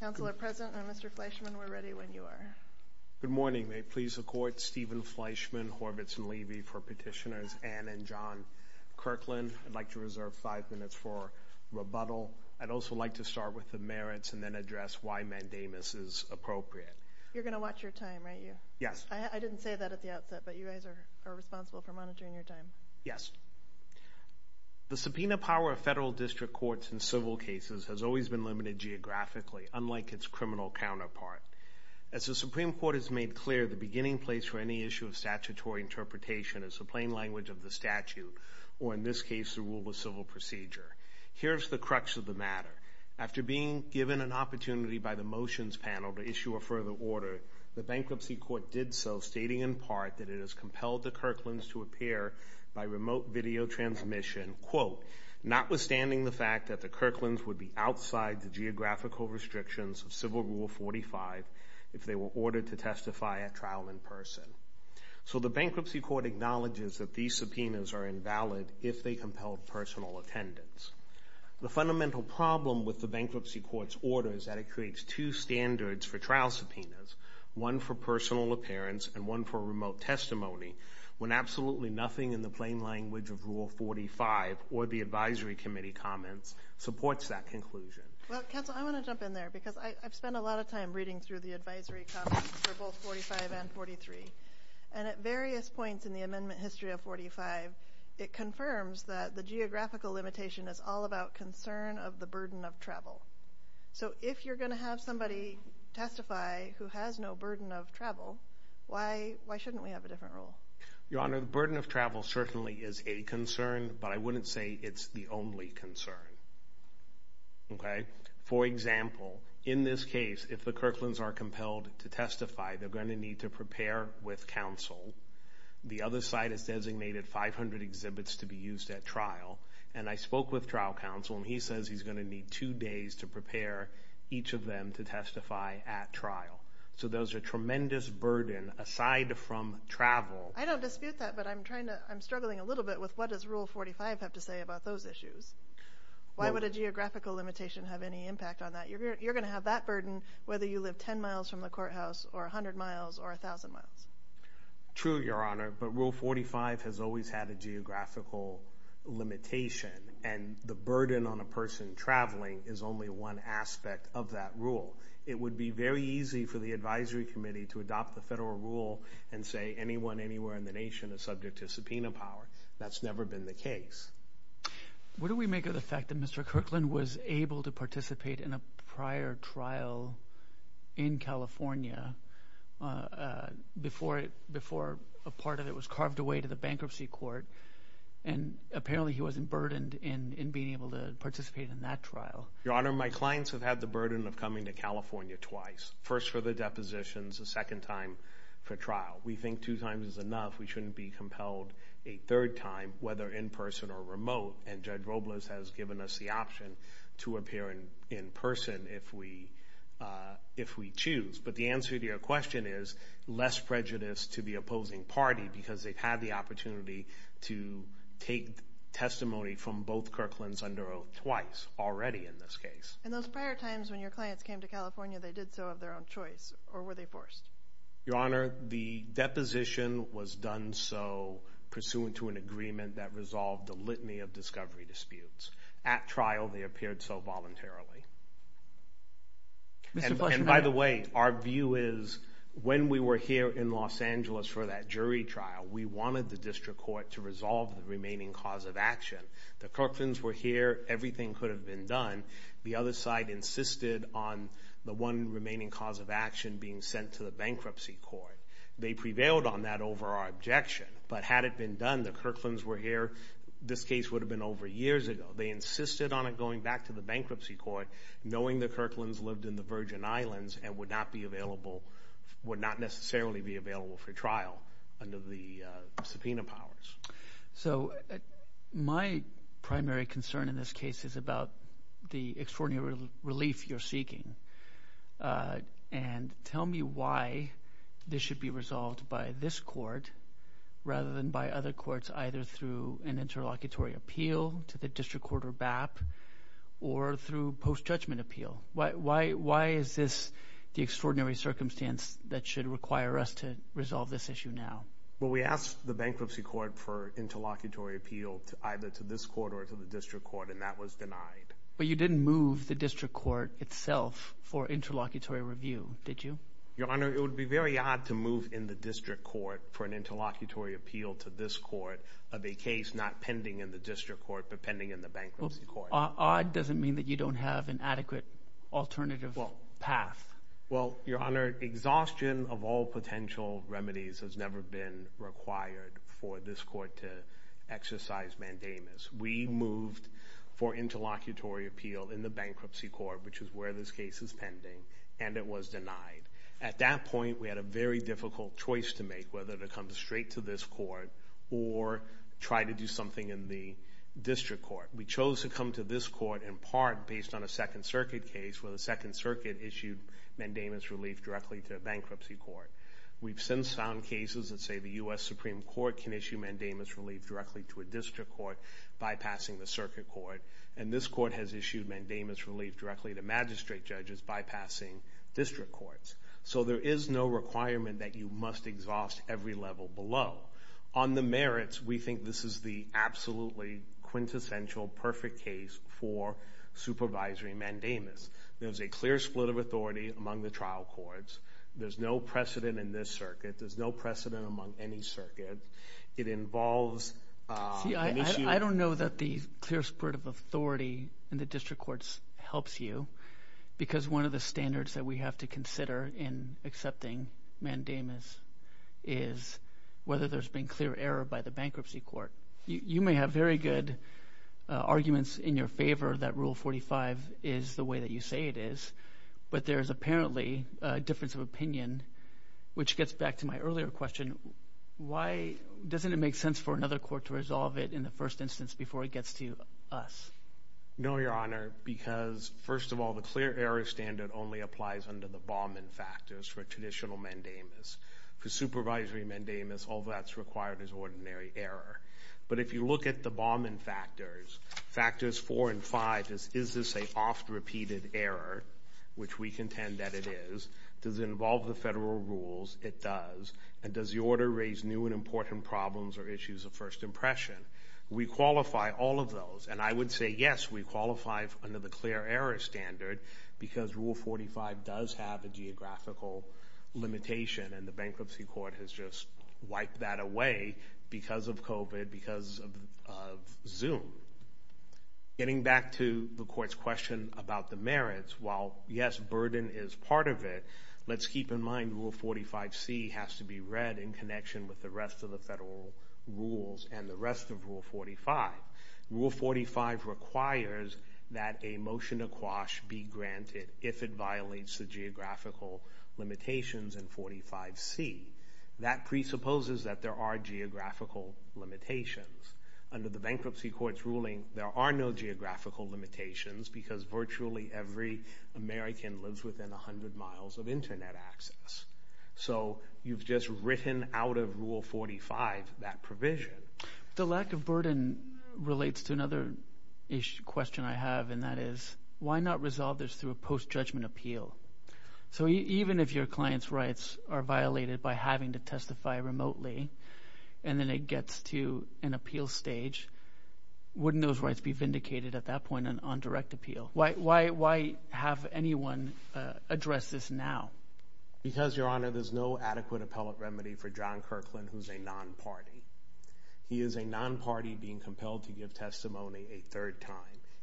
Good morning. May it please the Court, Stephen Fleischman, Horvitz and Levy for Petitioners Ann and John Kirkland. I'd like to reserve five minutes for rebuttal. I'd also like to start with the merits and then address why mandamus is appropriate. You're going to watch your time, right? Yes. I didn't say that at the outset, but you guys are responsible for monitoring your time. Yes. The subpoena power of federal district courts in civil cases has always been limited geographically, unlike its criminal counterpart. As the Supreme Court has made clear, the beginning place for any issue of statutory interpretation is the plain language of the statute, or in this case, the rule of civil procedure. Here's the crux of the matter. After being given an opportunity by the motions panel to issue a further order, the bankruptcy court did so, stating in part that it has compelled the Kirklands to appear by remote video transmission, quote, notwithstanding the fact that the Kirklands would be outside the geographical restrictions of Civil Rule 45 if they were ordered to testify at trial in person. So the bankruptcy court acknowledges that these subpoenas are invalid if they compel personal attendance. The fundamental problem with the bankruptcy court's order is that it creates two standards for trial subpoenas, one for personal appearance and one for remote testimony, when absolutely nothing in the plain language of Rule 45 or the advisory committee comments supports that conclusion. Well, counsel, I want to jump in there because I've spent a lot of time reading through the advisory comments for both 45 and 43, and at various points in the amendment history of 45, it confirms that the geographical limitation is all about concern of the burden of travel. So if you're going to have somebody testify who has no burden of travel, why shouldn't we have a different rule? Your Honor, the burden of travel certainly is a concern, but I wouldn't say it's the only concern. Okay? For example, in this case, if the Kirklands are compelled to testify, they're going to need to prepare with counsel. The other side has designated 500 exhibits to be used at trial, and I spoke with trial counsel, and he says he's going to need two days to prepare each of them to testify at trial. So there's a tremendous burden aside from travel. I don't dispute that, but I'm struggling a little bit with what does Rule 45 have to say about those issues? Why would a geographical limitation have any impact on that? You're going to have that burden whether you live 10 miles from the courthouse or 100 miles or 1,000 miles. True, Your Honor, but Rule 45 has always had a geographical limitation, and the burden on a person traveling is only one aspect of that rule. It would be very easy for the advisory committee to adopt the federal rule and say anyone anywhere in the nation is subject to subpoena power. That's never been the case. What do we make of the fact that Mr. Kirkland was able to participate in a prior trial in California before a part of it was carved away to the bankruptcy court, and apparently he wasn't burdened in being able to participate in that trial? Your Honor, my clients have had the burden of coming to California twice, first for the depositions, the second time for trial. We think two times is enough. We shouldn't be compelled a third time, whether in person or remote, and Judge Robles has given us the option to appear in person if we choose. But the answer to your question is less prejudice to the opposing party, because they've had the opportunity to take testimony from both Kirklands under oath twice already in this case. And those prior times when your clients came to California, they did so of their own choice, or were they forced? Your Honor, the deposition was done so pursuant to an agreement that resolved the litany of discovery disputes. At trial, they appeared so voluntarily. And by the way, our view is, when we were here in Los Angeles for that jury trial, we wanted the district court to resolve the remaining cause of action. The Kirklands were here, everything could have been done. The other side insisted on the one remaining cause of action being sent to the bankruptcy court. They prevailed on that over our objection, but had it been done, the Kirklands were here, this case would have been over years ago. They insisted on it going back to the bankruptcy court, knowing the Kirklands lived in the Virgin Islands and would not necessarily be available for trial under the subpoena powers. So my primary concern in this case is about the extraordinary relief you're seeking. And tell me why this should be resolved by this court rather than by other courts, either through an interlocutory appeal to the district court or BAP, or through post-judgment appeal. Why is this the extraordinary circumstance that should require us to resolve this issue now? Well, we asked the bankruptcy court for interlocutory appeal either to this court or to the district court, and that was denied. But you didn't move the district court itself for interlocutory review, did you? Your Honor, it would be very odd to move in the district court for an interlocutory appeal to this court of a case not pending in the district court, but pending in the bankruptcy court. Odd doesn't mean that you don't have an adequate alternative path. Well, Your Honor, exhaustion of all potential remedies has never been required for this court to exercise mandamus. We moved for interlocutory appeal in the bankruptcy court, which is where this case is pending, and it was denied. At that point, we had a very difficult choice to make whether to come straight to this court or try to do something in the district court. We chose to come to this court in part based on a Second Circuit case where the Second Circuit issued mandamus relief directly to a bankruptcy court. We've since found cases that say the U.S. Supreme Court can issue mandamus relief directly to a district court, bypassing the circuit court, and this court has issued mandamus relief directly to magistrate judges, bypassing district courts. So there is no requirement that you must exhaust every level below. On the merits, we think this is the absolutely quintessential, perfect case for supervisory mandamus. There's a clear split of authority among the trial courts. There's no precedent in this circuit. There's no precedent among any circuit. It involves an issue... See, I don't know that the clear split of authority in the district courts helps you because one of the standards that we have to consider in accepting mandamus is whether there's been clear error by the bankruptcy court. You may have very good arguments in your favor that Rule 45 is the way that you say it is, but there's apparently a difference of opinion, which gets back to my earlier question. Why doesn't it make sense for another court to resolve it in the first instance before it gets to us? No, Your Honor, because first of all, the clear error standard only applies under the mandamus. For supervisory mandamus, all that's required is ordinary error. But if you look at the Bauman factors, factors four and five, is this an oft-repeated error, which we contend that it is? Does it involve the federal rules? It does. And does the order raise new and important problems or issues of first impression? We qualify all of those, and I would say yes, we qualify under the clear error standard because Rule 45 does have a geographical limitation and the bankruptcy court has just wiped that away because of COVID, because of Zoom. Getting back to the court's question about the merits, while yes, burden is part of it, let's keep in mind Rule 45C has to be read in connection with the rest of the federal rules and the rest of Rule 45. Rule 45 requires that a motion to quash be granted if it violates the geographical limitations in 45C. That presupposes that there are geographical limitations. Under the bankruptcy court's ruling, there are no geographical limitations because virtually every American lives within 100 miles of internet access. So you've just written out of Rule 45 that provision. The lack of burden relates to another question I have, and that is, why not resolve this through a post-judgment appeal? So even if your client's rights are violated by having to testify remotely, and then it gets to an appeal stage, wouldn't those rights be vindicated at that point on direct appeal? Why have anyone address this now? Because, Your Honor, there's no adequate appellate remedy for John Kirkland, who's a non-party. He is a non-party being compelled to give testimony a third time.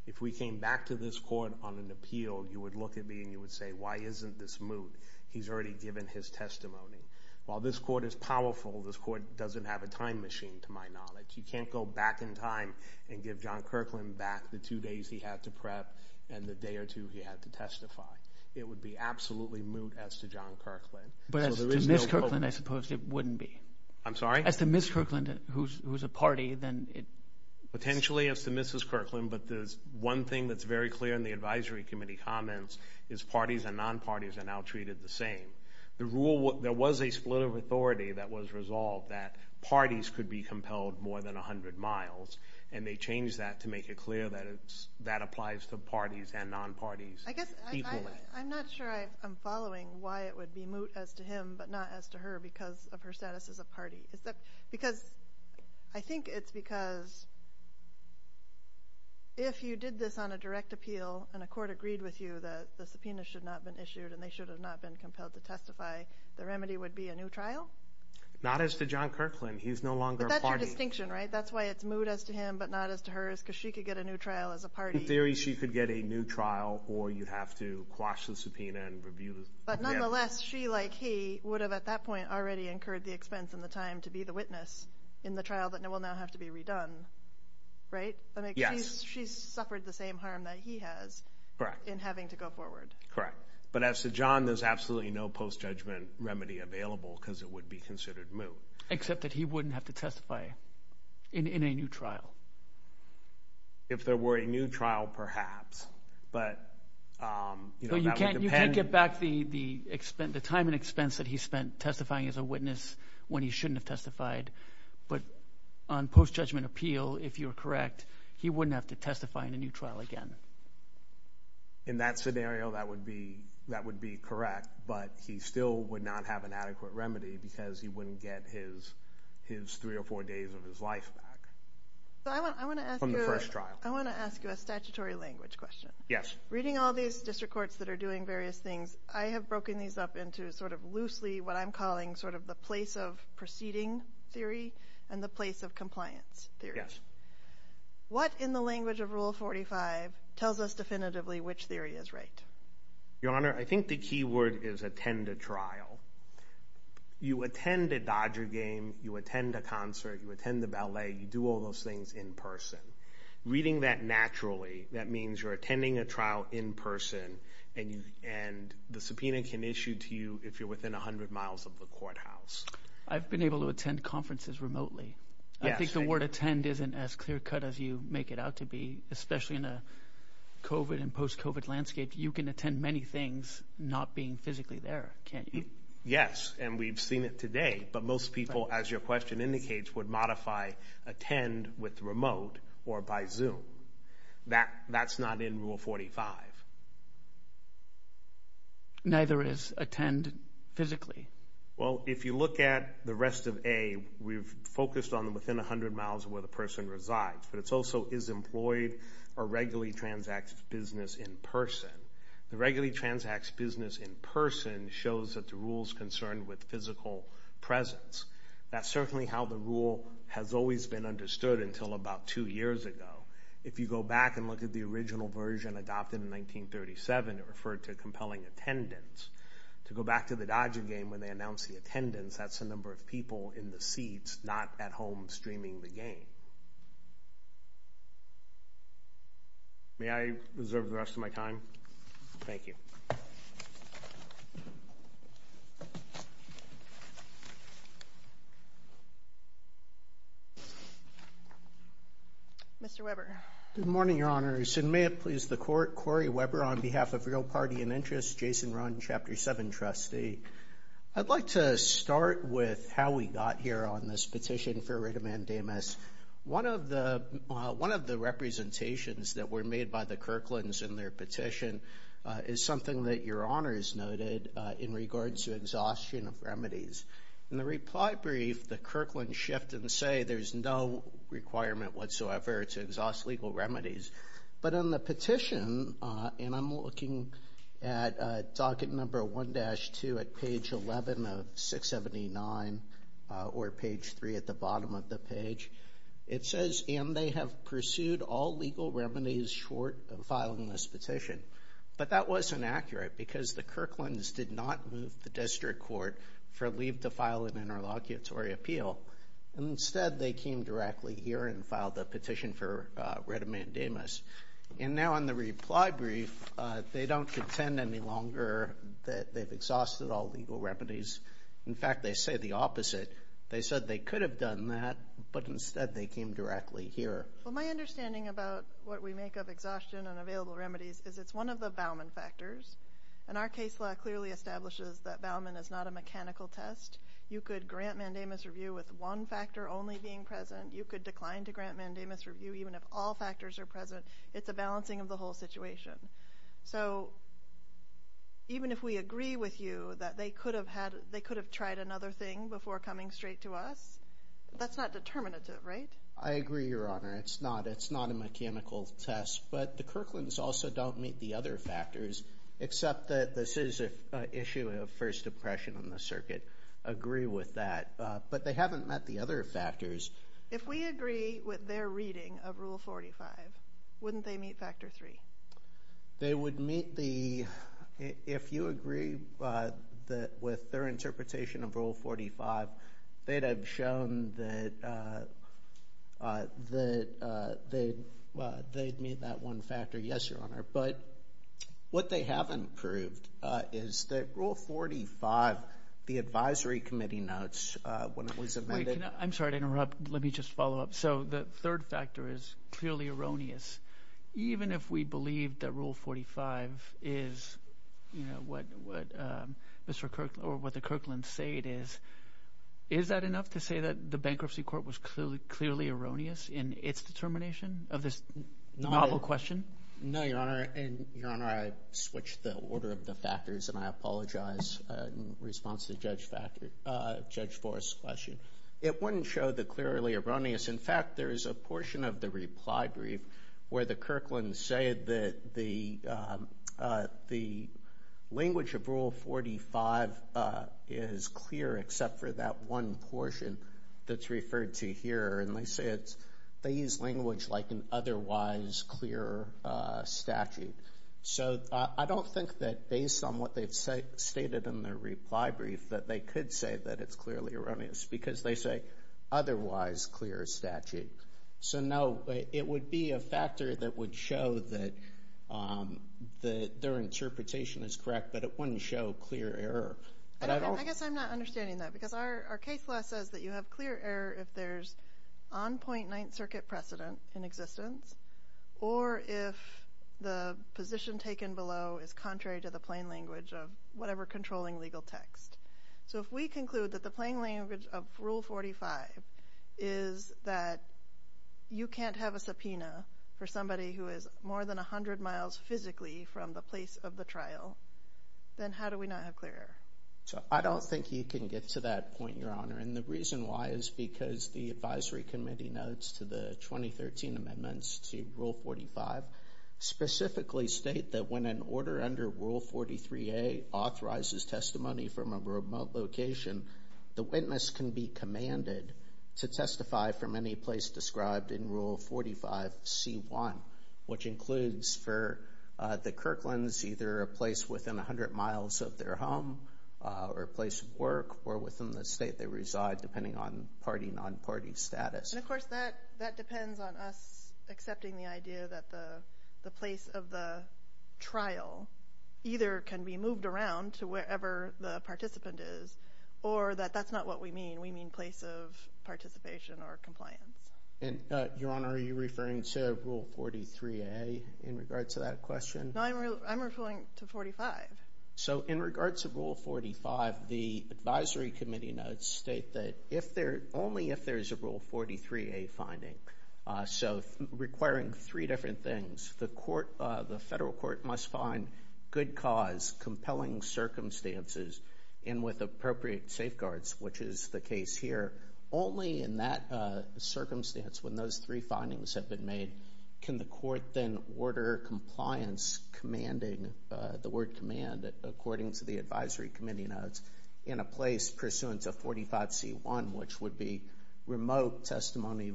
If we came back to this court on an appeal, you would look at me and you would say, why isn't this moot? He's already given his testimony. While this court is powerful, this court doesn't have a time machine, to my knowledge. You can't go back in time and give John Kirkland back the two days he had to prep and the day or two he had to testify. It would be absolutely moot as to John Kirkland. But as to Ms. Kirkland, I suppose it wouldn't be. I'm sorry? As to Ms. Kirkland, who's a party, then it... Potentially as to Mrs. Kirkland, but there's one thing that's very clear in the advisory committee comments, is parties and non-parties are now treated the same. There was a split of authority that was resolved that parties could be compelled more than 100 miles, and they changed that to make it clear that that applies to parties and non-parties equally. I'm not sure I'm following why it would be moot as to him, but not as to her, because of her status as a party. Is that because... I think it's because if you did this on a direct appeal and a court agreed with you that the subpoena should not have been issued and they should have not been compelled to testify, the remedy would be a new trial? Not as to John Kirkland. He's no longer a party. But that's your distinction, right? That's why it's moot as to him, but not as to her, is because she could get a new trial as a party. In theory, she could get a new trial, or you'd have to quash the subpoena and review the appeal. But nonetheless, she, like he, would have at that point already incurred the expense and the time to be the witness in the trial that will now have to be redone, right? Yes. She's suffered the same harm that he has in having to go forward. Correct. But as to John, there's absolutely no post-judgment remedy available because it would be considered moot. Except that he wouldn't have to testify in a new trial. If there were a new trial, perhaps. But, you know, that would depend... So you can't get back the time and expense that he spent testifying as a witness when he shouldn't have testified, but on post-judgment appeal, if you're correct, he wouldn't have to testify in a new trial again. In that scenario, that would be correct, but he still would not have an adequate remedy because he wouldn't get his three or four days of his life back from the first trial. I want to ask you a statutory language question. Yes. Reading all these district courts that are doing various things, I have broken these up into sort of loosely what I'm calling sort of the place of proceeding theory and the place of compliance theory. What in the language of Rule 45 tells us definitively which theory is right? Your Honor, I think the key word is attend a trial. You attend a Dodger game, you attend a concert, you attend the ballet, you do all those things in person. Reading that naturally, that means you're attending a trial in person and the subpoena can issue to you if you're within 100 miles of the courthouse. I've been able to attend conferences remotely. Yes. I think the word attend isn't as clear cut as you make it out to be, especially in a post-COVID and post-COVID landscape. You can attend many things not being physically there, can't you? Yes, and we've seen it today, but most people, as your question indicates, would modify attend with remote or by Zoom. That's not in Rule 45. Neither is attend physically. Well, if you look at the rest of A, we've focused on within 100 miles of where the person is. That's business in person. The regularly transacts business in person shows that the rule's concerned with physical presence. That's certainly how the rule has always been understood until about two years ago. If you go back and look at the original version adopted in 1937, it referred to compelling attendance. To go back to the Dodger game when they announced the attendance, that's the number of people in the seats not at home streaming the game. May I reserve the rest of my time? Thank you. Mr. Weber. Good morning, Your Honors, and may it please the Court, Corey Weber on behalf of Real Party and Interest, Jason Rahn, Chapter 7 trustee. I'd like to start with how we got here on this petition for writ of mandamus. One of the representations that were made by the Kirkland's in their petition is something that Your Honors noted in regards to exhaustion of remedies. In the reply brief, the Kirkland's shift and say there's no requirement whatsoever to exhaust legal remedies. But on the petition, and I'm looking at docket number 1-2 at page 11 of 679 or page 3 at the bottom of the page, it says, and they have pursued all legal remedies short of filing this petition. But that was inaccurate because the Kirkland's did not move the district court for leave to file an interlocutory appeal. Instead, they came directly here and filed a petition for writ of mandamus. And now on the reply brief, they don't contend any longer that they've exhausted all legal remedies. In fact, they say the opposite. They said they could have done that, but instead they came directly here. Well, my understanding about what we make of exhaustion and available remedies is it's one of the Bauman factors. And our case law clearly establishes that Bauman is not a mechanical test. You could grant mandamus review with one factor only being present. You could decline to grant mandamus review even if all factors are present. It's a balancing of the whole situation. So even if we agree with you that they could have tried another thing before coming straight to us, that's not determinative, right? I agree, Your Honor. It's not. It's not a mechanical test. But the Kirkland's also don't meet the other factors, except that this is an issue of first impression in the circuit. Agree with that. But they haven't met the other factors. If we agree with their reading of Rule 45, wouldn't they meet Factor 3? They would meet the... If you agree with their interpretation of Rule 45, they'd have shown that they'd meet that one factor. Yes, Your Honor. But what they haven't proved is that Rule 45, the advisory committee notes when it was amended... Wait. Can I... I'm sorry to interrupt. Let me just follow up. So the third factor is clearly erroneous. Even if we believe that Rule 45 is what the Kirkland's say it is, is that enough to say that the bankruptcy court was clearly erroneous in its determination of this novel question? No, Your Honor. And, Your Honor, I switched the order of the factors, and I apologize in response to Judge Forrest's question. It wouldn't show the clearly erroneous. In fact, there is a portion of the reply brief where the Kirkland's say that the language of Rule 45 is clear, except for that one portion that's referred to here. And they say they use language like an otherwise clear statute. So I don't think that based on what they've stated in their reply brief that they could say that it's clearly erroneous, because they say otherwise clear statute. So no, it would be a factor that would show that their interpretation is correct, but it wouldn't show clear error. And I don't... I guess I'm not understanding that, because our case law says that you have clear error if there's on point Ninth Circuit precedent in existence, or if the position taken below is contrary to the plain language of whatever controlling legal text. So if we conclude that the plain language of Rule 45 is that you can't have a subpoena for somebody who is more than 100 miles physically from the place of the trial, then how do we not have clear error? So I don't think you can get to that point, Your Honor. And the reason why is because the advisory committee notes to the 2013 amendments to Rule 45 specifically state that when an order under Rule 43A authorizes testimony from a remote location, the witness can be commanded to testify from any place described in Rule 45C1, which includes for the Kirkland's, either a place within 100 miles of their home, or a place of work, or within the state they reside, depending on party, non-party status. And of course, that depends on us accepting the idea that the place of the trial either can be moved around to wherever the participant is, or that that's not what we mean. We mean place of participation or compliance. And Your Honor, are you referring to Rule 43A in regards to that question? No, I'm referring to 45. So in regards to Rule 45, the advisory committee notes state that if there, only if there's a Rule 43A finding, so requiring three different things, the court, the federal court must find good cause, compelling circumstances, and with appropriate safeguards, which is the case here. Only in that circumstance, when those three findings have been made, can the court then order compliance commanding, the word command, according to the advisory committee notes, in a place pursuant to 45C1, which would be remote testimony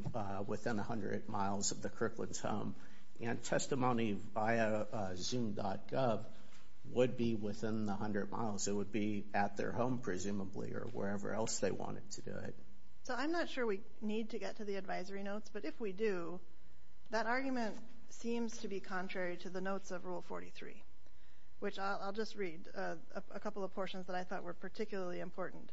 within 100 miles of the Kirkland's home, and testimony via zoom.gov would be within the 100 miles. It would be at their home, presumably, or wherever else they wanted to do it. So I'm not sure we need to get to the advisory notes, but if we do, that argument seems to be contrary to the notes of Rule 43, which I'll just read a couple of portions that I thought were particularly important.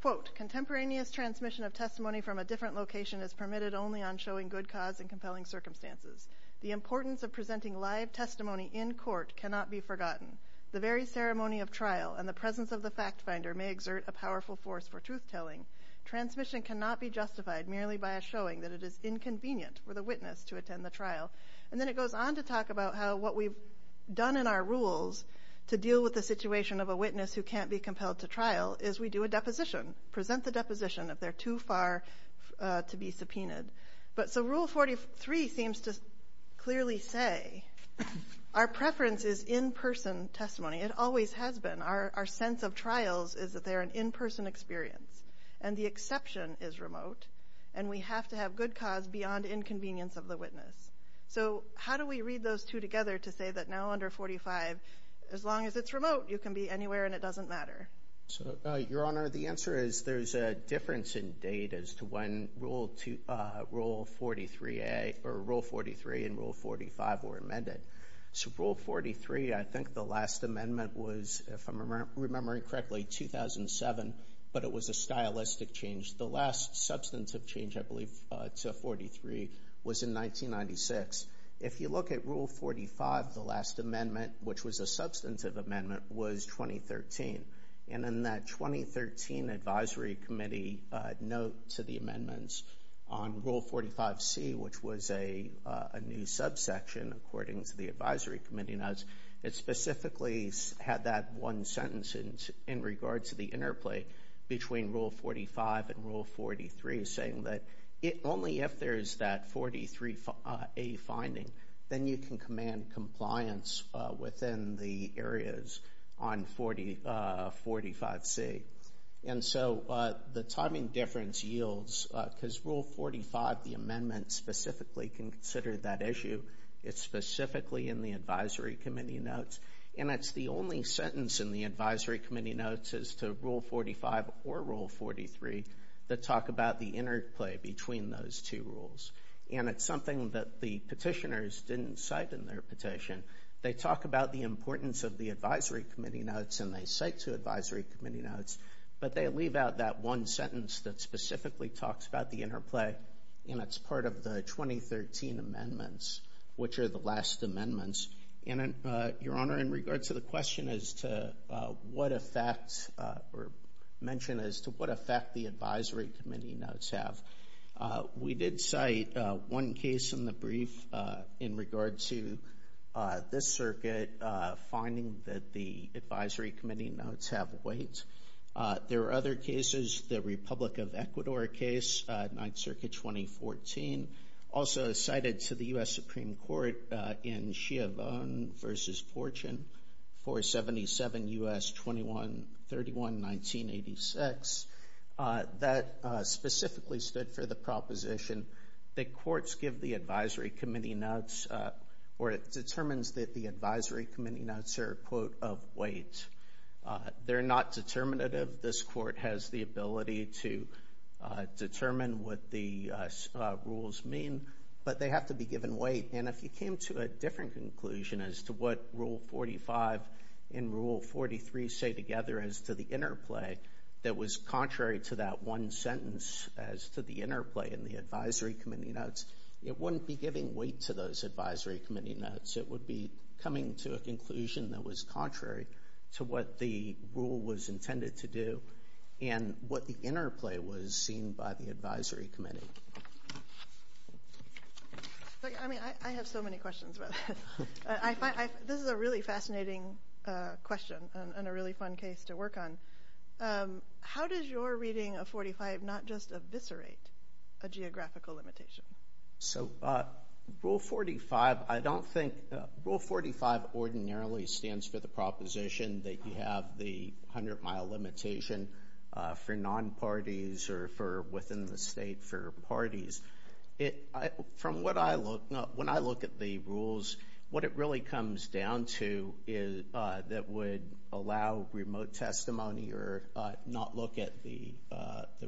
Quote, contemporaneous transmission of testimony from a different location is permitted only on showing good cause and compelling circumstances. The importance of presenting live testimony in court cannot be forgotten. The very ceremony of trial and the presence of the fact finder may exert a powerful force for truth telling. Transmission cannot be justified merely by a showing that it is inconvenient for the witness to attend the trial. And then it goes on to talk about how what we've done in our rules to deal with the situation of a witness who can't be compelled to trial is we do a deposition, present the deposition if they're too far to be subpoenaed. But so Rule 43 seems to clearly say our preference is in-person testimony. It always has been. Our sense of trials is that they're an in-person experience. And the exception is remote. And we have to have good cause beyond inconvenience of the witness. So how do we read those two together to say that now under 45, as long as it's remote, you can be anywhere and it doesn't matter? So Your Honor, the answer is there's a difference in date as to when Rule 43 and Rule 45 were amended. So Rule 43, I think the last amendment was, if I'm remembering correctly, 2007. But it was a stylistic change. The last substantive change, I believe, to 43 was in 1996. If you look at Rule 45, the last amendment, which was a substantive amendment, was 2013. And in that 2013 Advisory Committee note to the amendments on Rule 45C, which was a new subsection according to the Advisory Committee notes, it specifically had that one sentence in regards to the interplay between Rule 45 and Rule 43, saying that only if there is that 43A finding, then you can command compliance within the areas on 45C. And so the timing difference yields, because Rule 45, the amendment, specifically can consider that issue. It's specifically in the Advisory Committee notes. And it's the only sentence in the Advisory Committee notes as to Rule 45 or Rule 43 that talk about the interplay between those two rules. And it's something that the petitioners didn't cite in their petition. They talk about the importance of the Advisory Committee notes and they cite to Advisory Committee notes, but they leave out that one sentence that specifically talks about the interplay. And it's part of the 2013 amendments, which are the last amendments. And, Your Honor, in regards to the question as to what effect or mention as to what effect the Advisory Committee notes have, we did cite one case in the brief in regards to this circuit finding that the Advisory Committee notes have weight. There are other cases, the Republic of Ecuador case, 9th Circuit 2014, also cited to the Bonn v. Fortune 477 U.S. 2131, 1986, that specifically stood for the proposition that courts give the Advisory Committee notes, or it determines that the Advisory Committee notes are, quote, of weight. They're not determinative. This court has the ability to determine what the rules mean, but they have to be given weight. And if you came to a different conclusion as to what Rule 45 and Rule 43 say together as to the interplay that was contrary to that one sentence as to the interplay in the Advisory Committee notes, it wouldn't be giving weight to those Advisory Committee notes. It would be coming to a conclusion that was contrary to what the rule was intended to do and what the interplay was seen by the Advisory Committee. I mean, I have so many questions about that. This is a really fascinating question and a really fun case to work on. How does your reading of 45 not just eviscerate a geographical limitation? So Rule 45, I don't think—Rule 45 ordinarily stands for the proposition that you have the parties. From what I look—when I look at the rules, what it really comes down to that would allow remote testimony or not look at the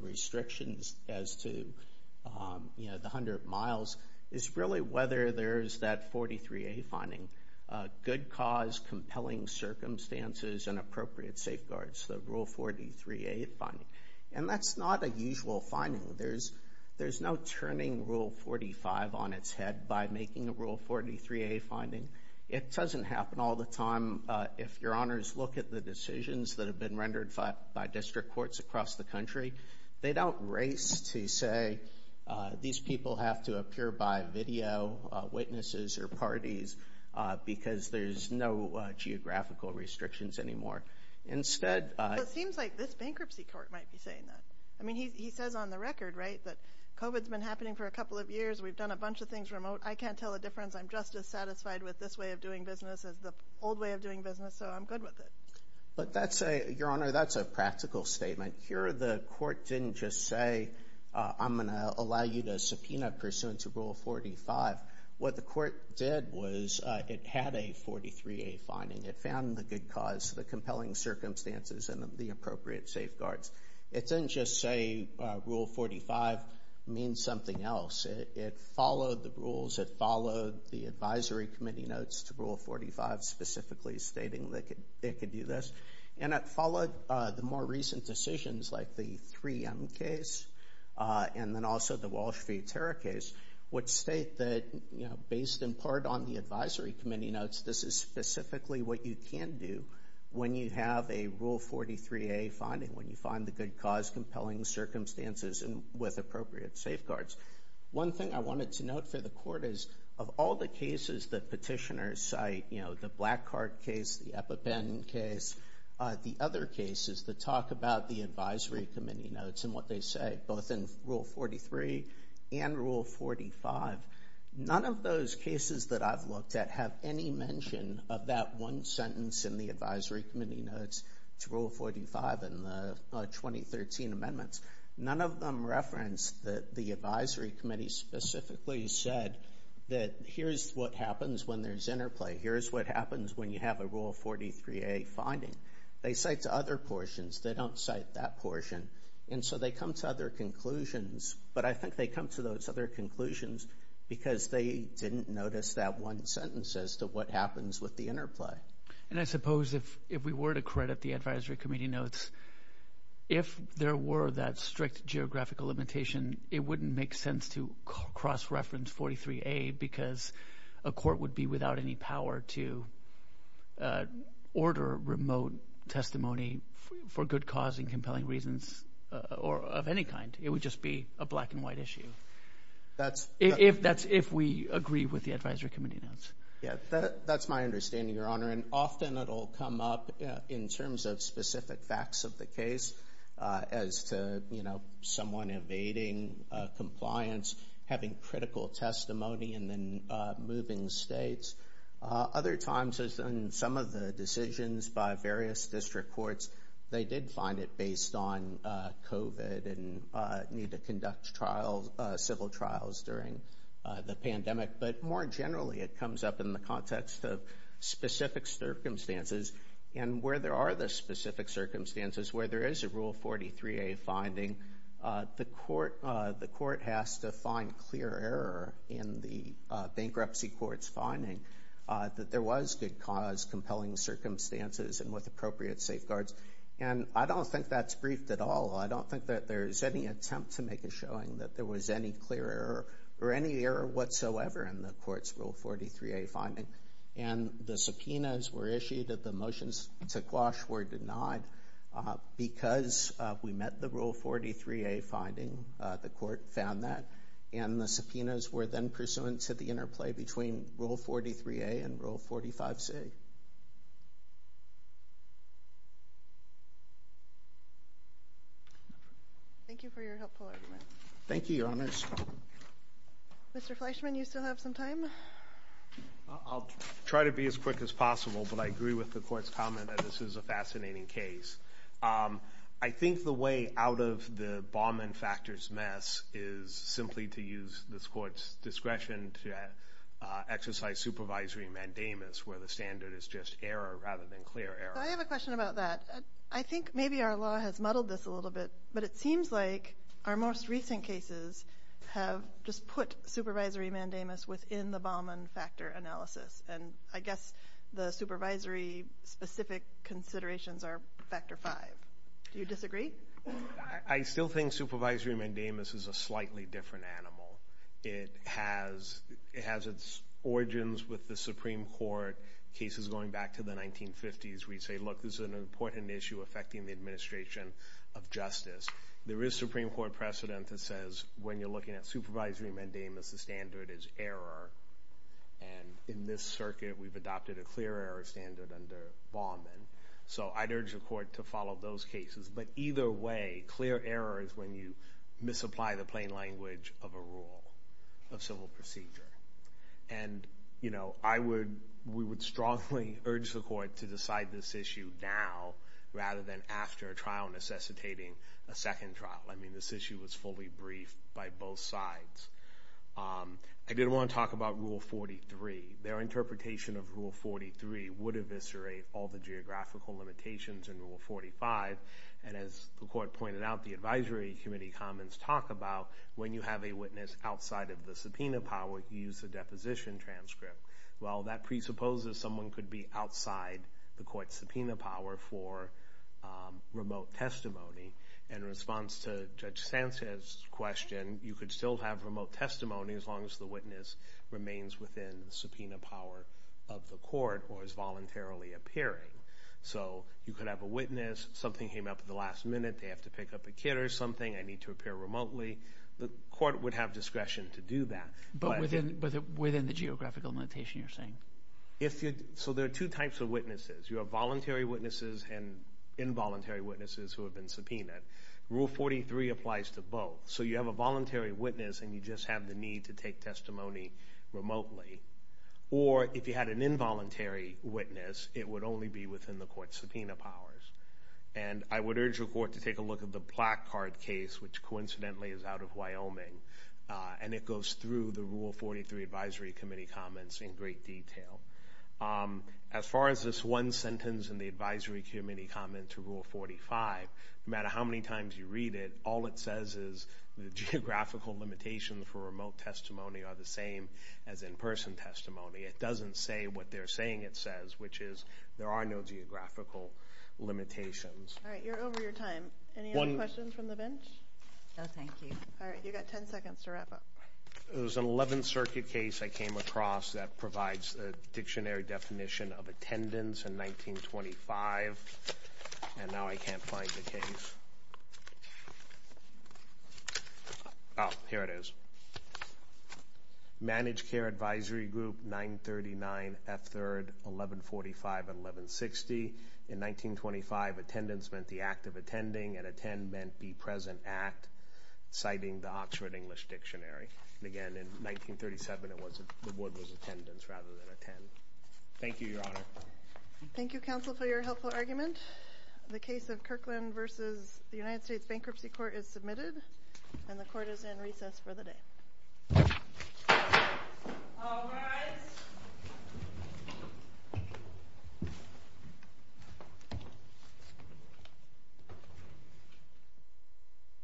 restrictions as to, you know, the 100 miles, is really whether there's that 43A finding, good cause, compelling circumstances, and appropriate safeguards, the Rule 43A finding. And that's not a usual finding. There's no turning Rule 45 on its head by making a Rule 43A finding. It doesn't happen all the time. If your honors look at the decisions that have been rendered by district courts across the country, they don't race to say, these people have to appear by video, witnesses or parties, because there's no geographical restrictions anymore. Instead— Well, it seems like this bankruptcy court might be saying that. I mean, he says on the record, right, that COVID's been happening for a couple of years. We've done a bunch of things remote. I can't tell the difference. I'm just as satisfied with this way of doing business as the old way of doing business, so I'm good with it. But that's a—Your Honor, that's a practical statement. Here the court didn't just say, I'm going to allow you to subpoena pursuant to Rule 45. What the court did was it had a 43A finding. It found the good cause, the compelling circumstances, and the appropriate safeguards. It didn't just say Rule 45 means something else. It followed the rules. It followed the advisory committee notes to Rule 45 specifically stating that it could do this. And it followed the more recent decisions, like the 3M case, and then also the Walsh v. Terra case, which state that, you know, based in part on the advisory committee notes, this is specifically what you can do when you have a Rule 43A finding, when you find the good cause, compelling circumstances, and with appropriate safeguards. One thing I wanted to note for the court is, of all the cases that petitioners cite, you know, the Black Card case, the EpiPen case, the other cases that talk about the advisory committee notes and what they say, both in Rule 43 and Rule 45, none of those cases that I've looked at have any mention of that one sentence in the advisory committee notes to Rule 45 in the 2013 amendments. None of them reference that the advisory committee specifically said that here's what happens when there's interplay. Here's what happens when you have a Rule 43A finding. They cite to other portions. They don't cite that portion. And so they come to other conclusions, but I think they come to those other conclusions because they didn't notice that one sentence as to what happens with the interplay. And I suppose if we were to credit the advisory committee notes, if there were that strict geographical limitation, it wouldn't make sense to cross-reference 43A because a court would be without any power to order remote testimony for good cause and compelling reasons or of any kind. It would just be a black and white issue. That's if we agree with the advisory committee notes. Yeah, that's my understanding, Your Honor. And often it'll come up in terms of specific facts of the case as to, you know, someone evading compliance, having critical testimony, and then moving states. Other times, as in some of the decisions by various district courts, they did find it based on COVID and need to conduct civil trials during the pandemic. But more generally, it comes up in the context of specific circumstances. And where there are the specific circumstances, where there is a Rule 43A finding, the court has to find clear error in the bankruptcy court's finding that there was good cause, compelling circumstances, and with appropriate safeguards. And I don't think that's briefed at all. I don't think that there's any attempt to make a showing that there was any clear error or any error whatsoever in the court's Rule 43A finding. And the subpoenas were issued that the motions to quash were denied because we met the Rule 43A finding. The court found that. And the subpoenas were then pursuant to the interplay between Rule 43A and Rule 45C. Thank you for your helpful argument. Thank you, Your Honors. Mr. Fleischman, you still have some time? I'll try to be as quick as possible, but I agree with the Court's comment that this is a fascinating case. I think the way out of the Bauman factors mess is simply to use this Court's discretion to exercise supervisory mandamus, where the standard is just error rather than clear error. So I have a question about that. I think maybe our law has muddled this a little bit, but it seems like our most recent cases have just put supervisory mandamus within the Bauman factor analysis. And I guess the supervisory-specific considerations are Factor V. Do you disagree? I still think supervisory mandamus is a slightly different animal. It has its origins with the Supreme Court cases going back to the 1950s, where you say, look, this is an important issue affecting the administration of justice. There is Supreme Court precedent that says when you're looking at supervisory mandamus, the standard is error. And in this circuit, we've adopted a clear error standard under Bauman. So I'd urge the Court to follow those cases. But either way, clear error is when you misapply the plain language of a rule, of civil procedure. And we would strongly urge the Court to decide this issue now rather than after a trial necessitating a second trial. I mean, this issue was fully briefed by both sides. I did want to talk about Rule 43. Their interpretation of Rule 43 would eviscerate all the geographical limitations in Rule 45 and, as the Court pointed out, the Advisory Committee comments talk about when you have a witness outside of the subpoena power, you use a deposition transcript. Well, that presupposes someone could be outside the Court's subpoena power for remote testimony. In response to Judge Sanchez's question, you could still have remote testimony as long as the witness remains within the subpoena power of the Court or is voluntarily appearing. So you could have a witness, something came up at the last minute, they have to pick up a kid or something, I need to appear remotely. The Court would have discretion to do that. But within the geographical limitation you're saying? So there are two types of witnesses. You have voluntary witnesses and involuntary witnesses who have been subpoenaed. Rule 43 applies to both. So you have a voluntary witness and you just have the need to take testimony remotely. Or if you had an involuntary witness, it would only be within the Court's subpoena powers. And I would urge the Court to take a look at the Placard case, which coincidentally is out of Wyoming. And it goes through the Rule 43 Advisory Committee comments in great detail. As far as this one sentence in the Advisory Committee comment to Rule 45, no matter how many times you read it, all it says is the geographical limitations for remote testimony are the same as in-person testimony. It doesn't say what they're saying it says, which is there are no geographical limitations. All right, you're over your time. Any other questions from the bench? No, thank you. All right, you've got 10 seconds to wrap up. There was an 11th Circuit case I came across that provides a dictionary definition of attendance in 1925, and now I can't find the case. Oh, here it is. Managed Care Advisory Group 939F3rd 1145 and 1160. In 1925, attendance meant the act of attending, and attend meant be present at, citing the Oxford English Dictionary. And again, in 1937, the word was attendance rather than attend. Thank you, Your Honor. Thank you, Counsel, for your helpful argument. The case of Kirkland v. United States Bankruptcy Court is submitted, and the Court is in recess for the day. All rise.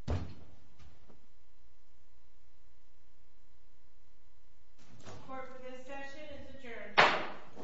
The Court for this session is adjourned.